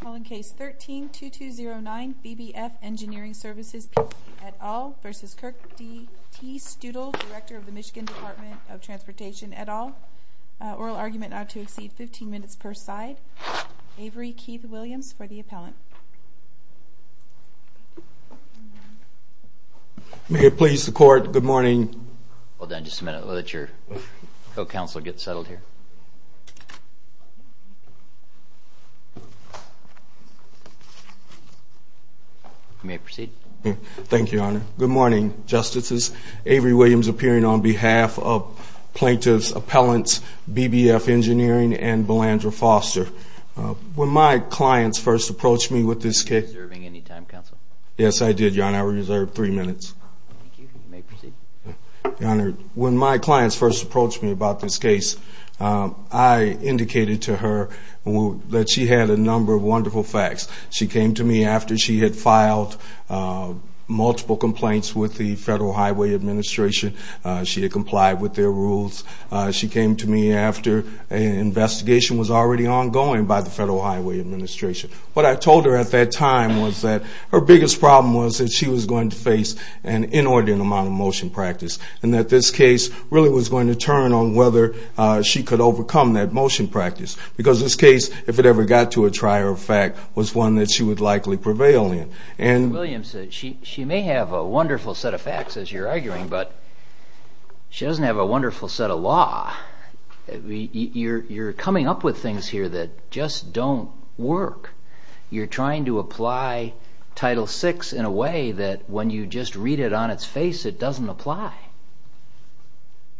Call in case 13-2209 BBF Engineering Services P.T. et al. v. Kirk D. T. Stoodle, Director of the Michigan Department of Transportation et al. Oral argument not to exceed 15 minutes per side. Avery Keith Williams for the appellant. May it please the court. Good morning. Hold on just a minute. Let your co-counsel get settled here. You may proceed. Thank you, Your Honor. Good morning, Justices. Avery Williams appearing on behalf of plaintiffs, appellants, BBF Engineering and Belandra Foster. When my clients first approached me with this case... Were you reserving any time, Counsel? Yes, I did, Your Honor. I reserved three minutes. Thank you. You may proceed. Your Honor, when my clients first approached me about this case, I indicated to her that she had a number of wonderful facts. She came to me after she had filed multiple complaints with the Federal Highway Administration. She had complied with their rules. She came to me after an investigation was already ongoing by the Federal Highway Administration. What I told her at that time was that her biggest problem was that she was going to face an inordinate amount of motion practice. And that this case really was going to turn on whether she could overcome that motion practice. Because this case, if it ever got to a trier of fact, was one that she would likely prevail in. Williams, she may have a wonderful set of facts, as you're arguing, but she doesn't have a wonderful set of law. You're coming up with things here that just don't work. You're trying to apply Title VI in a way that when you just read it on its face, it doesn't apply.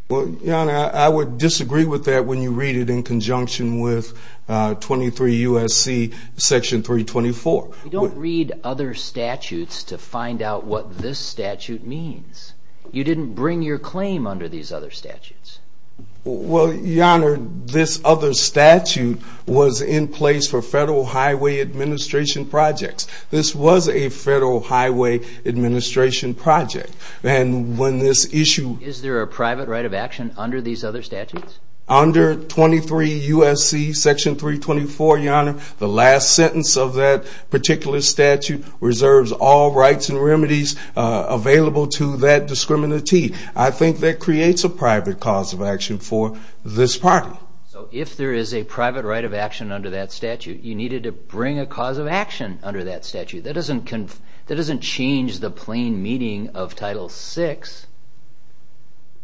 Your Honor, I would disagree with that when you read it in conjunction with 23 U.S.C. Section 324. You don't read other statutes to find out what this statute means. You didn't bring your claim under these other statutes. Well, Your Honor, this other statute was in place for Federal Highway Administration projects. This was a Federal Highway Administration project. Is there a private right of action under these other statutes? Under 23 U.S.C. Section 324, Your Honor, the last sentence of that particular statute reserves all rights and remedies available to that discriminatee. I think that creates a private cause of action for this party. So if there is a private right of action under that statute, you needed to bring a cause of action under that statute. That doesn't change the plain meaning of Title VI.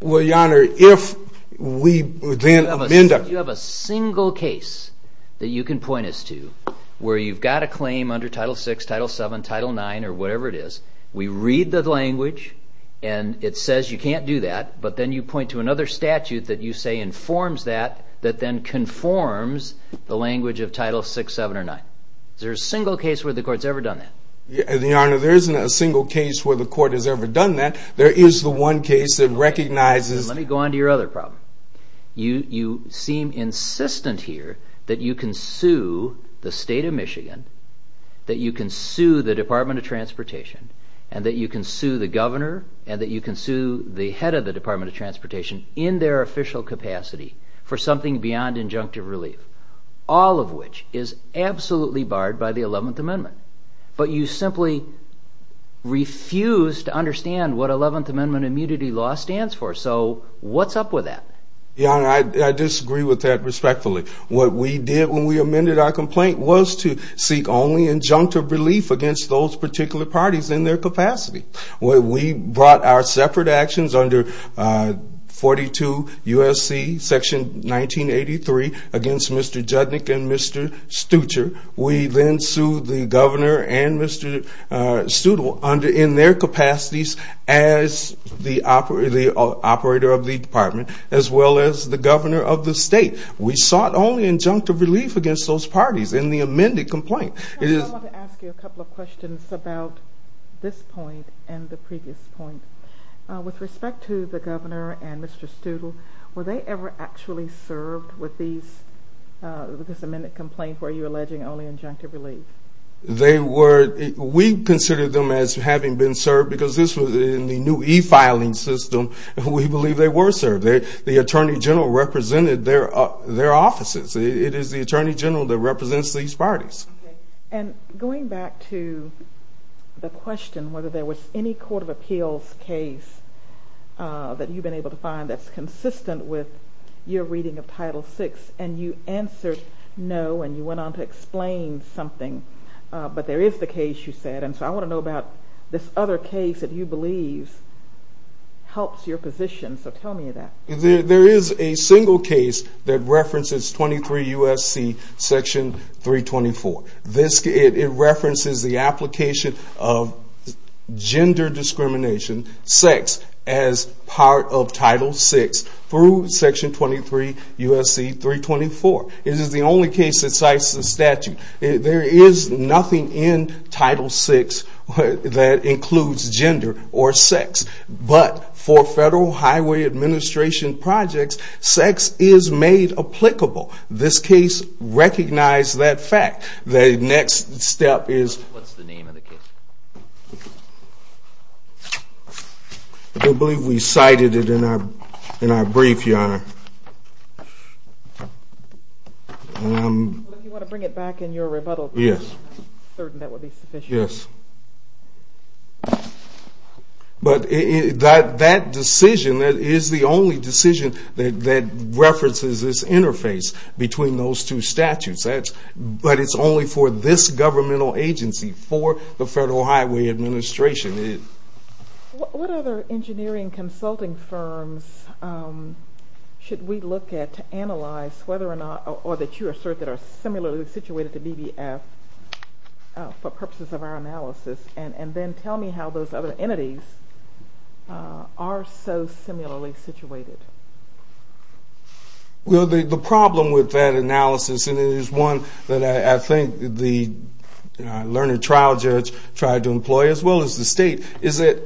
Well, Your Honor, if we then amend... You have a single case that you can point us to where you've got a claim under Title VI, Title VII, Title IX, or whatever it is. We read the language, and it says you can't do that, but then you point to another statute that you say informs that, that then conforms the language of Title VI, VII, or IX. Is there a single case where the Court's ever done that? Your Honor, there isn't a single case where the Court has ever done that. There is the one case that recognizes... Let me go on to your other problem. You seem insistent here that you can sue the State of Michigan, that you can sue the Department of Transportation, and that you can sue the governor, and that you can sue the head of the Department of Transportation in their official capacity for something beyond injunctive relief, all of which is absolutely barred by the Eleventh Amendment. But you simply refuse to understand what Eleventh Amendment immunity law stands for. So what's up with that? Your Honor, I disagree with that respectfully. What we did when we amended our complaint was to seek only injunctive relief against those particular parties in their capacity. We brought our separate actions under 42 U.S.C. section 1983 against Mr. Judnick and Mr. Stutcher. We then sued the governor and Mr. Stuttle in their capacities as the operator of the department as well as the governor of the state. We sought only injunctive relief against those parties in the amended complaint. I want to ask you a couple of questions about this point and the previous point. With respect to the governor and Mr. Stuttle, were they ever actually served with this amended complaint where you're alleging only injunctive relief? We considered them as having been served because in the new e-filing system, we believe they were served. The Attorney General represented their offices. It is the Attorney General that represents these parties. Going back to the question whether there was any court of appeals case that you've been able to find that's consistent with your reading of Title VI, and you answered no and you went on to explain something, but there is the case you said. I want to know about this other case that you believe helps your position, so tell me that. There is a single case that references 23 U.S.C. section 324. It references the application of gender discrimination, sex, as part of Title VI through section 23 U.S.C. 324. It is the only case that cites the statute. There is nothing in Title VI that includes gender or sex, but for Federal Highway Administration projects, sex is made applicable. This case recognized that fact. The next step is... What's the name of the case? If you want to bring it back in your rebuttal, I'm certain that would be sufficient. That decision is the only decision that references this interface between those two statutes, but it's only for this governmental agency, for the Federal Highway Administration. What other engineering consulting firms should we look at to analyze whether or not, or that you assert that are similarly situated to BBF for purposes of our analysis, and then tell me how those other entities are so similarly situated? Well, the problem with that analysis, and it is one that I think the learning trial judge tried to employ, as well as the state, is that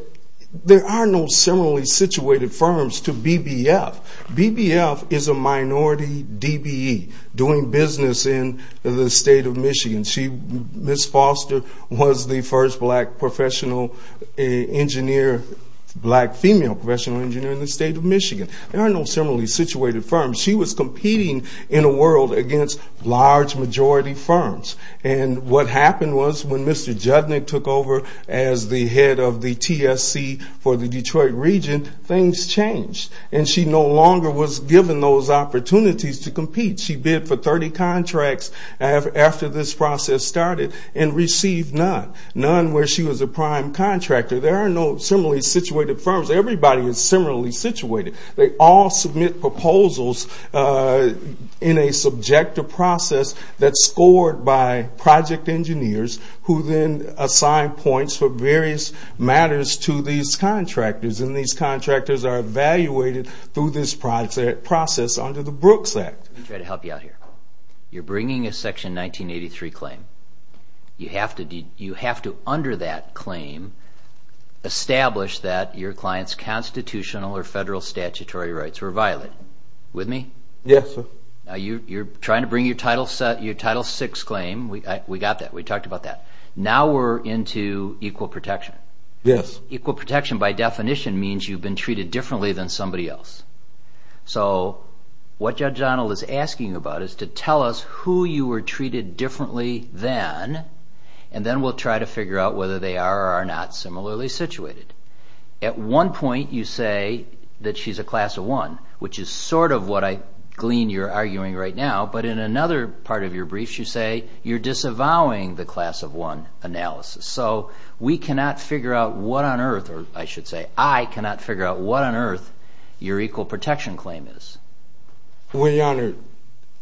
there are no similarly situated firms to BBF. BBF is a minority DBE doing business in the state of Michigan. She, Ms. Foster, was the first black professional engineer, black female professional engineer in the state of Michigan. There are no similarly situated firms. She was competing in a world against large majority firms, and what happened was when Mr. Judnick took over as the head of the TSC for the Detroit region, things changed, and she no longer was given those opportunities to compete. She bid for 30 contracts after this process started and received none. None where she was a prime contractor. There are no similarly situated firms. Everybody is similarly situated. They all submit proposals in a subjective process that's scored by project engineers who then assign points for various matters to these contractors, and these contractors are evaluated through this process under the Brooks Act. Let me try to help you out here. You're bringing a Section 1983 claim. You have to under that claim establish that your client's constitutional or federal statutory rights were violated. With me? Yes, sir. You're trying to bring your Title VI claim. We got that. We talked about that. Now we're into equal protection. Yes. Equal protection by definition means you've been treated differently than somebody else, so what Judge Donald is asking about is to tell us who you were treated differently than, and then we'll try to figure out whether they are or are not similarly situated. At one point you say that she's a class of one, which is sort of what I glean you're arguing right now, but in another part of your briefs you say you're disavowing the class of one analysis, so we cannot figure out what on earth, or I should say I cannot figure out what on earth your equal protection claim is. Well, Your Honor,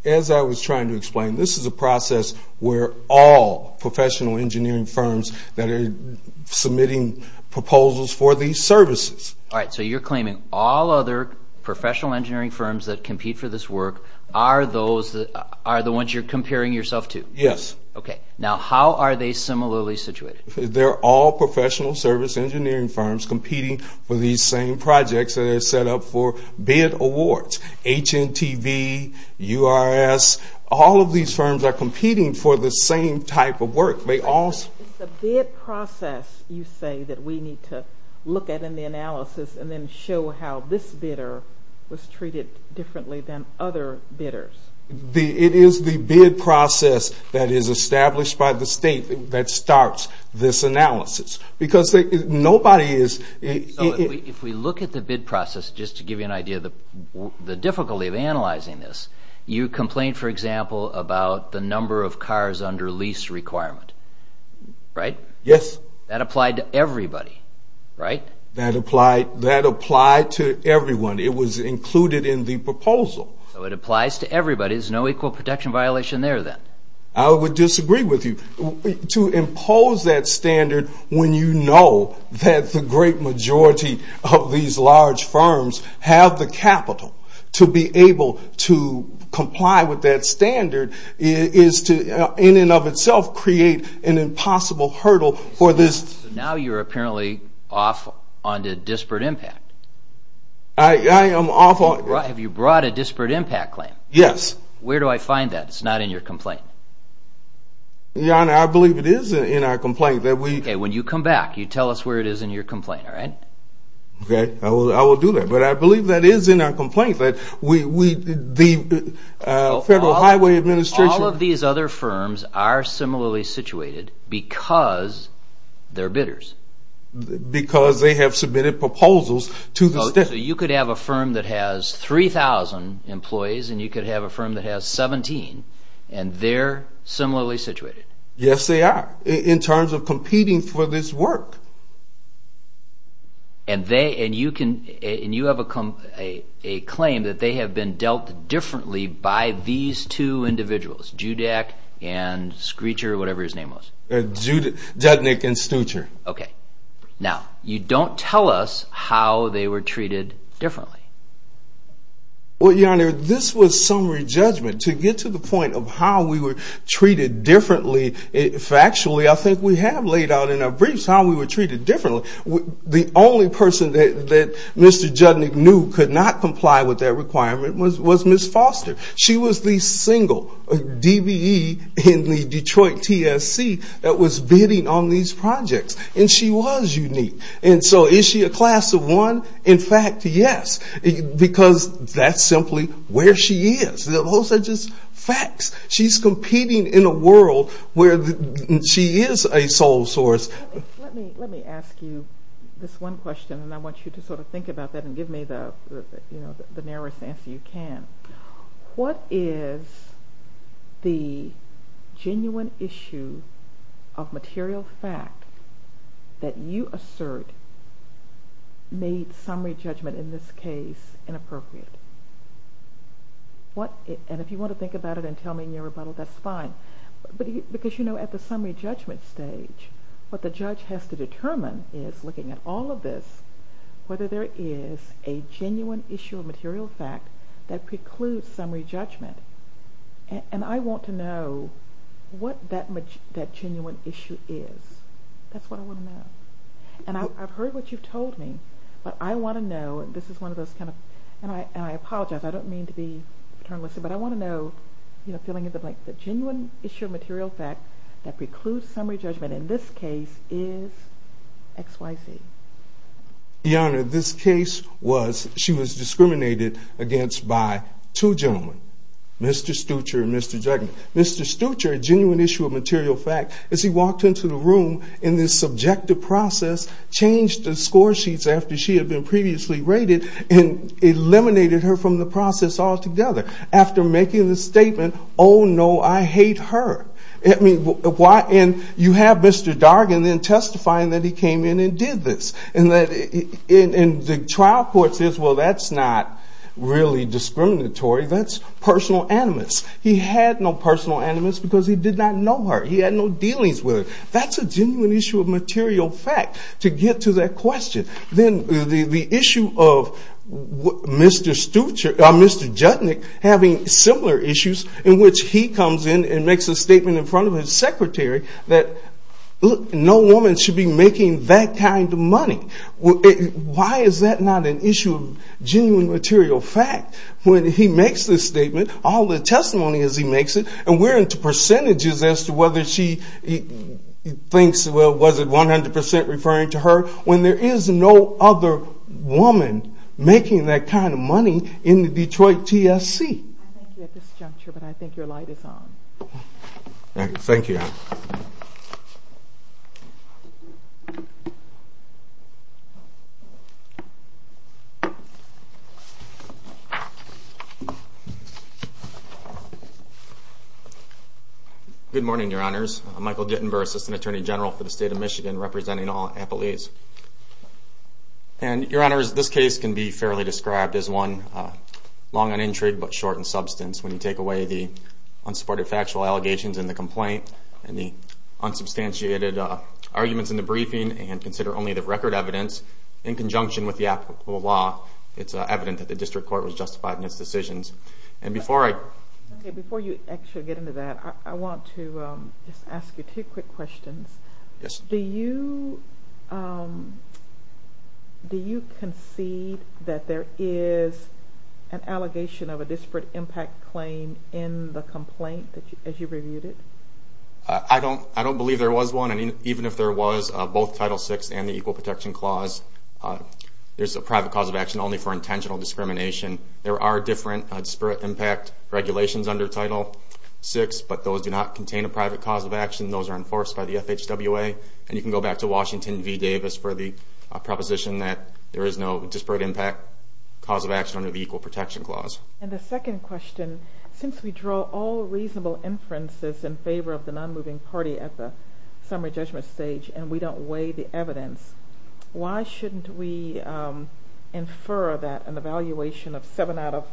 as I was trying to explain, this is a process where all professional engineering firms that are submitting proposals for these services. All right, so you're claiming all other professional engineering firms that compete for this work are the ones you're comparing yourself to? Yes. Okay, now how are they similarly situated? They're all professional service engineering firms competing for these same projects that are set up for bid awards. HMTV, URS, all of these firms are competing for the same type of work. It's a bid process you say that we need to look at in the analysis and then show how this bidder was treated differently than other bidders. It is the bid process that is established by the state that starts this analysis because nobody is... So if we look at the bid process, just to give you an idea of the difficulty of analyzing this, you complain, for example, about the number of cars under lease requirement, right? Yes. That applied to everybody, right? That applied to everyone. It was included in the proposal. So it applies to everybody. There's no equal protection violation there then? I would disagree with you. To impose that standard when you know that the great majority of these large firms have the capital to be able to comply with that standard is to, in and of itself, create an impossible hurdle for this... So now you're apparently off onto disparate impact. I am off on... Have you brought a disparate impact claim? Yes. Where do I find that? It's not in your complaint. Your Honor, I believe it is in our complaint that we... Okay, when you come back, you tell us where it is in your complaint, all right? Okay, I will do that. But I believe that is in our complaint that the Federal Highway Administration... All of these other firms are similarly situated because they're bidders. Because they have submitted proposals to the state. So you could have a firm that has 3,000 employees, and you could have a firm that has 17, and they're similarly situated? Yes, they are, in terms of competing for this work. And you have a claim that they have been dealt differently by these two individuals, Judak and Screecher, or whatever his name was? Judak and Screecher. Okay. Now, you don't tell us how they were treated differently. Well, Your Honor, this was summary judgment. To get to the point of how we were treated differently, factually, I think we have laid out in our briefs how we were treated differently. The only person that Mr. Judnick knew could not comply with that requirement was Ms. Foster. She was the single DBE in the Detroit TSC that was bidding on these projects. And she was unique. And so is she a class of one? In fact, yes, because that's simply where she is. Those are just facts. She's competing in a world where she is a sole source. Let me ask you this one question, and I want you to sort of think about that and give me the narrowest answer you can. What is the genuine issue of material fact that you assert made summary judgment in this case inappropriate? And if you want to think about it and tell me in your rebuttal, that's fine. Because, you know, at the summary judgment stage, what the judge has to determine is, looking at all of this, whether there is a genuine issue of material fact that precludes summary judgment. And I want to know what that genuine issue is. That's what I want to know. And I've heard what you've told me, but I want to know, and this is one of those kind of – The genuine issue of material fact that precludes summary judgment in this case is X, Y, Z. Your Honor, this case was – she was discriminated against by two gentlemen, Mr. Stutcher and Mr. Jagner. Mr. Stutcher, a genuine issue of material fact, as he walked into the room in this subjective process, changed the score sheets after she had been previously rated and eliminated her from the process altogether. After making the statement, oh, no, I hate her. And you have Mr. Dargan then testifying that he came in and did this. And the trial court says, well, that's not really discriminatory. That's personal animus. He had no personal animus because he did not know her. He had no dealings with her. That's a genuine issue of material fact, to get to that question. Then the issue of Mr. Stutcher – Mr. Jagner having similar issues in which he comes in and makes a statement in front of his secretary that, look, no woman should be making that kind of money. Why is that not an issue of genuine material fact? When he makes this statement, all the testimony as he makes it, and we're into percentages as to whether she thinks, well, was it 100% referring to her, when there is no other woman making that kind of money in the Detroit TSC. I thank you at this juncture, but I think your light is on. Thank you. Good morning, Your Honors. I'm Michael Gittenberg, Assistant Attorney General for the State of Michigan, representing all appellees. And, Your Honors, this case can be fairly described as one long on intrigue but short in substance. When you take away the unsupported factual allegations in the complaint and the unsubstantiated arguments in the briefing and consider only the record evidence in conjunction with the applicable law, it's evident that the district court was justified in its decisions. Before you actually get into that, I want to just ask you two quick questions. Yes. Do you concede that there is an allegation of a disparate impact claim in the complaint as you reviewed it? I don't believe there was one. Even if there was, both Title VI and the Equal Protection Clause, there's a private cause of action only for intentional discrimination. There are different disparate impact regulations under Title VI, but those do not contain a private cause of action. Those are enforced by the FHWA. And you can go back to Washington v. Davis for the proposition that there is no disparate impact cause of action under the Equal Protection Clause. And the second question, since we draw all reasonable inferences in favor of the non-moving party at the summary judgment stage and we don't weigh the evidence, why shouldn't we infer that an evaluation of seven out of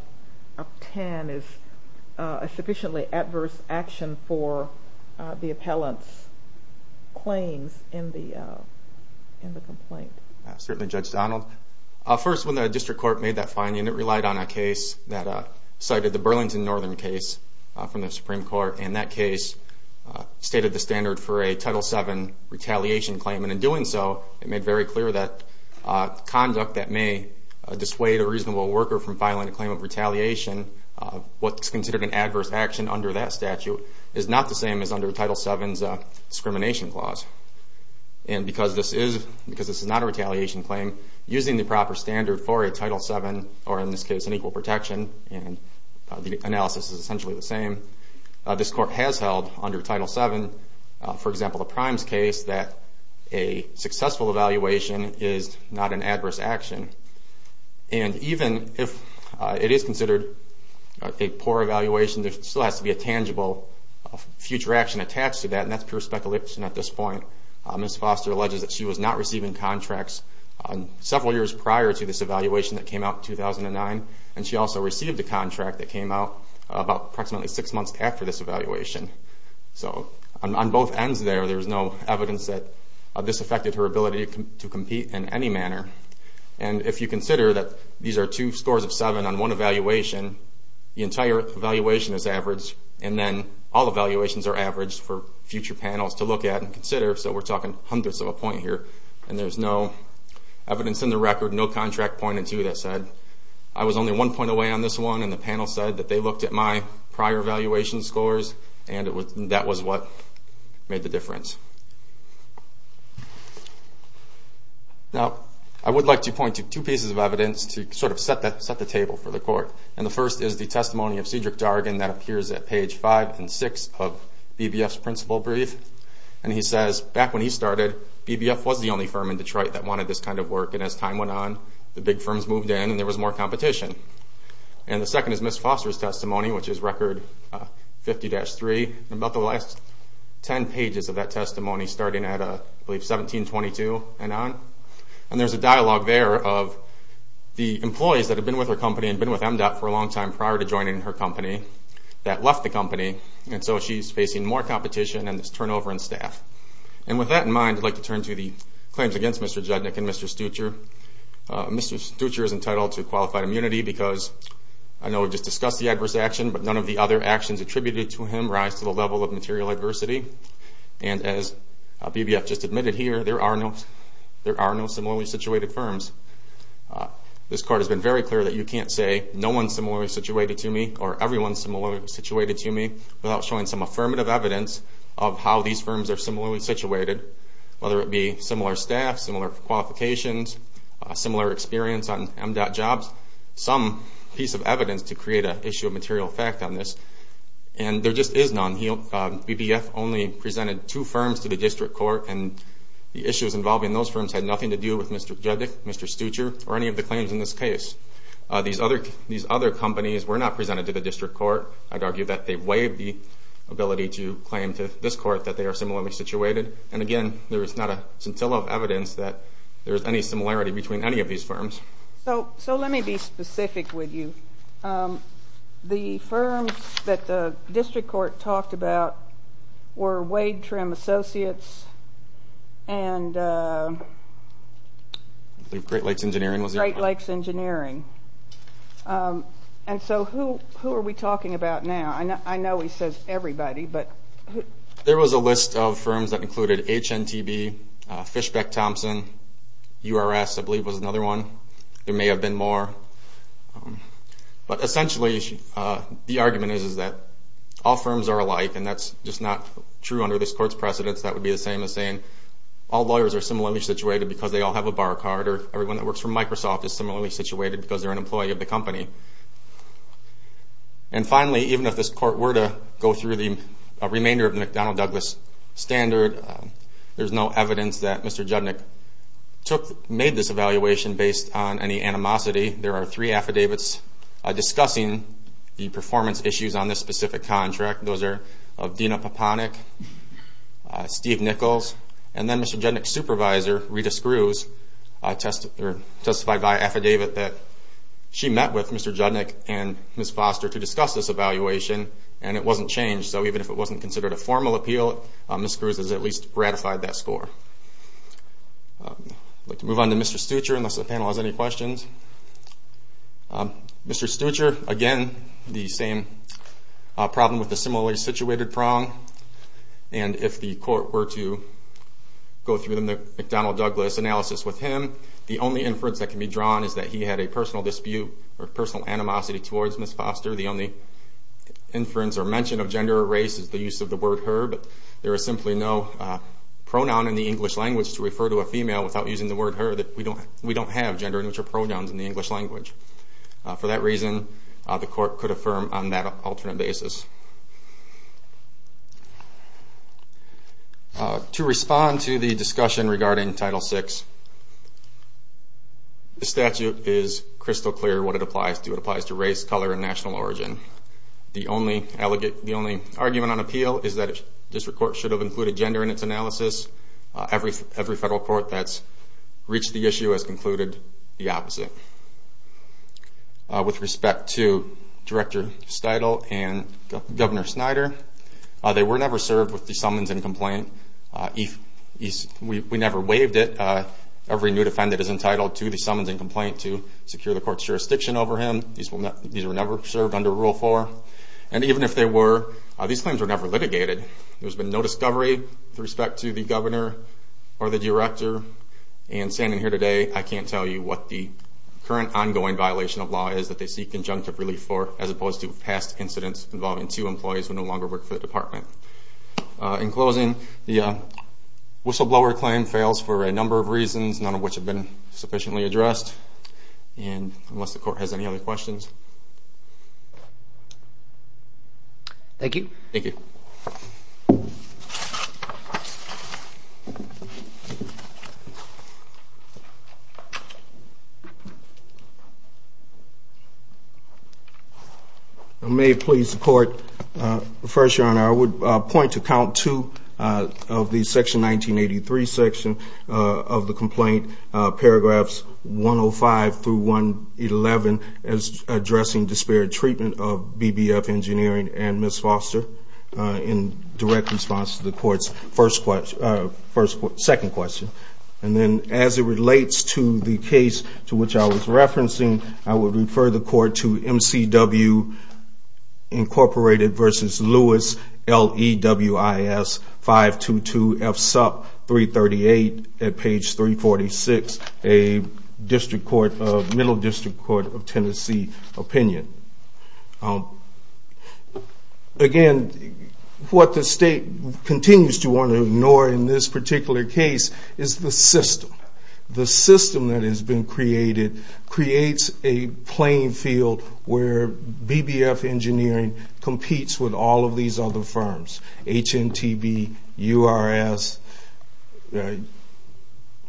ten is a sufficiently adverse action for the appellant's claims in the complaint? Certainly, Judge Donald. First, when the district court made that finding, it relied on a case that cited the Burlington Northern case from the Supreme Court. And that case stated the standard for a Title VII retaliation claim. And in doing so, it made very clear that conduct that may dissuade a reasonable worker from filing a claim of retaliation, what's considered an adverse action under that statute, is not the same as under Title VII's discrimination clause. And because this is not a retaliation claim, using the proper standard for a Title VII, or in this case an equal protection, and the analysis is essentially the same, this court has held under Title VII, for example, the Primes case, that a successful evaluation is not an adverse action. And even if it is considered a poor evaluation, there still has to be a tangible future action attached to that, and that's pure speculation at this point. Ms. Foster alleges that she was not receiving contracts several years prior to this evaluation that came out in 2009, and she also received a contract that came out about approximately six months after this evaluation. So on both ends there, there's no evidence that this affected her ability to compete in any manner. And if you consider that these are two scores of seven on one evaluation, the entire evaluation is averaged, and then all evaluations are averaged for future panels to look at and consider, so we're talking hundreds of a point here. And there's no evidence in the record, no contract pointed to that said, I was only one point away on this one, and the panel said that they looked at my prior evaluation scores, and that was what made the difference. Now, I would like to point to two pieces of evidence to sort of set the table for the court, and the first is the testimony of Cedric Dargan that appears at page five and six of BBF's principal brief. And he says, back when he started, BBF was the only firm in Detroit that wanted this kind of work, and as time went on, the big firms moved in and there was more competition. And the second is Ms. Foster's testimony, which is record 50-3, and about the last ten pages of that testimony starting at, I believe, 1722 and on. And there's a dialogue there of the employees that had been with her company and been with MDOT for a long time prior to joining her company that left the company, and so she's facing more competition and this turnover in staff. And with that in mind, I'd like to turn to the claims against Mr. Judnick and Mr. Stucher. Mr. Stucher is entitled to qualified immunity because, I know we just discussed the adverse action, but none of the other actions attributed to him rise to the level of material adversity. And as BBF just admitted here, there are no similarly situated firms. This court has been very clear that you can't say no one is similarly situated to me or everyone is similarly situated to me without showing some affirmative evidence of how these firms are similarly situated, whether it be similar staff, similar qualifications, similar experience on MDOT jobs, some piece of evidence to create an issue of material effect on this. And there just is none. BBF only presented two firms to the district court, and the issues involving those firms had nothing to do with Mr. Judnick, Mr. Stucher, or any of the claims in this case. These other companies were not presented to the district court. I'd argue that they waived the ability to claim to this court that they are similarly situated. And again, there is not a scintilla of evidence that there is any similarity between any of these firms. So let me be specific with you. The firms that the district court talked about were Wade Trim Associates and Great Lakes Engineering. And so who are we talking about now? I know he says everybody, but who? There was a list of firms that included HNTB, Fishbeck Thompson, URS I believe was another one. There may have been more. But essentially the argument is that all firms are alike, and that's just not true under this court's precedence. That would be the same as saying all lawyers are similarly situated because they all have a bar card, or everyone that works for Microsoft is similarly situated because they're an employee of the company. And finally, even if this court were to go through the remainder of the McDonnell Douglas standard, there's no evidence that Mr. Judnick made this evaluation based on any animosity. There are three affidavits discussing the performance issues on this specific contract. Those are of Dina Poponik, Steve Nichols, and then Mr. Judnick's supervisor, Rita Screws, testified by affidavit that she met with Mr. Judnick and Ms. Foster to discuss this evaluation, and it wasn't changed. So even if it wasn't considered a formal appeal, Ms. Screws has at least ratified that score. I'd like to move on to Mr. Stutcher, unless the panel has any questions. Mr. Stutcher, again, the same problem with the similarly situated prong. And if the court were to go through the McDonnell Douglas analysis with him, the only inference that can be drawn is that he had a personal dispute or personal animosity towards Ms. Foster. The only inference or mention of gender or race is the use of the word her, but there is simply no pronoun in the English language to refer to a female without using the word her. We don't have gender neutral pronouns in the English language. For that reason, the court could affirm on that alternate basis. To respond to the discussion regarding Title VI, the statute is crystal clear what it applies to. It applies to race, color, and national origin. The only argument on appeal is that a district court should have included gender in its analysis. Every federal court that's reached the issue has concluded the opposite. With respect to Director Steudle and Governor Snyder, they were never served with the summons and complaint. We never waived it. Every new defendant is entitled to the summons and complaint to secure the court's jurisdiction over him. These were never served under Rule 4. And even if they were, these claims were never litigated. There's been no discovery with respect to the governor or the director. And standing here today, I can't tell you what the current ongoing violation of law is that they seek conjunctive relief for, as opposed to past incidents involving two employees who no longer work for the department. In closing, the whistleblower claim fails for a number of reasons, none of which have been sufficiently addressed. And unless the court has any other questions. Thank you. Thank you. Thank you. May it please the court. First, Your Honor, I would point to Count 2 of the Section 1983 section of the complaint, paragraphs 105 through 111, as addressing disparate treatment of BBF Engineering and Ms. Foster, in direct response to the court's second question. And then as it relates to the case to which I was referencing, I would refer the court to MCW Incorporated v. Lewis, L-E-W-I-S-522-F-SUP-338 at page 346. A Middle District Court of Tennessee opinion. Again, what the state continues to want to ignore in this particular case is the system. The system that has been created creates a playing field where BBF Engineering competes with all of these other firms. HNTB, URS,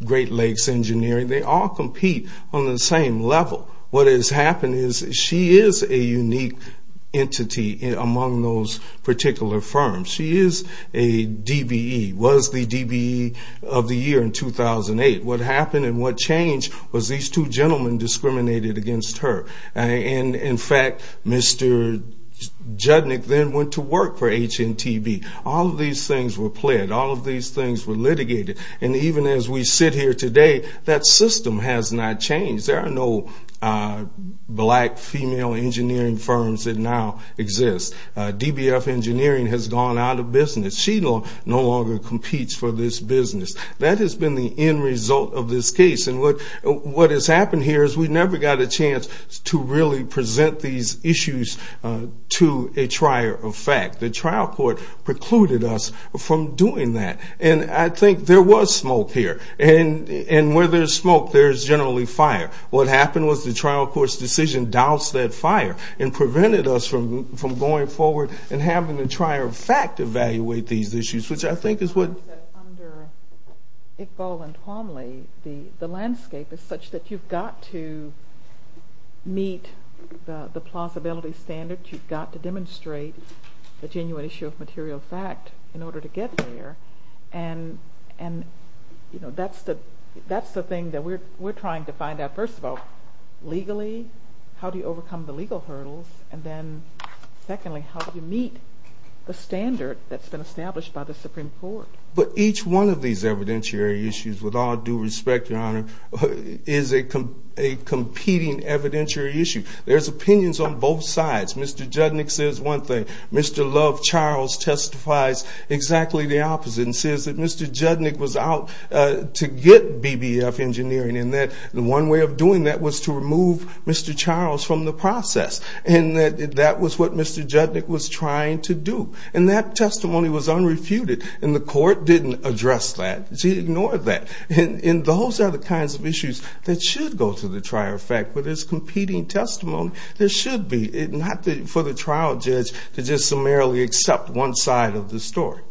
Great Lakes Engineering, and so on. They all compete on the same level. What has happened is she is a unique entity among those particular firms. She is a DBE, was the DBE of the year in 2008. What happened and what changed was these two gentlemen discriminated against her. And in fact, Mr. Judnick then went to work for HNTB. All of these things were pled, all of these things were litigated. And even as we sit here today, that system has not changed. There are no black female engineering firms that now exist. DBF Engineering has gone out of business. She no longer competes for this business. That has been the end result of this case. And what has happened here is we never got a chance to really present these issues to a trier of fact. The trial court precluded us from doing that. And I think there was smoke here. And where there is smoke, there is generally fire. What happened was the trial court's decision doused that fire and prevented us from going forward and having the trier of fact evaluate these issues. The landscape is such that you've got to meet the plausibility standards. You've got to demonstrate a genuine issue of material fact in order to get there. And that's the thing that we're trying to find out. First of all, legally, how do you overcome the legal hurdles? And then secondly, how do you meet the standard that's been established by the Supreme Court? But each one of these evidentiary issues, with all due respect, Your Honor, is a competing evidentiary issue. There's opinions on both sides. Mr. Judnick says one thing. Mr. Love Charles testifies exactly the opposite and says that Mr. Judnick was out to get BBF Engineering and that the one way of doing that was to remove Mr. Charles from the process. And that was what Mr. Judnick was trying to do. And that testimony was unrefuted. And the court didn't address that. She ignored that. And those are the kinds of issues that should go to the trier of fact. But it's competing testimony that should be, not for the trial judge to just summarily accept one side of the story.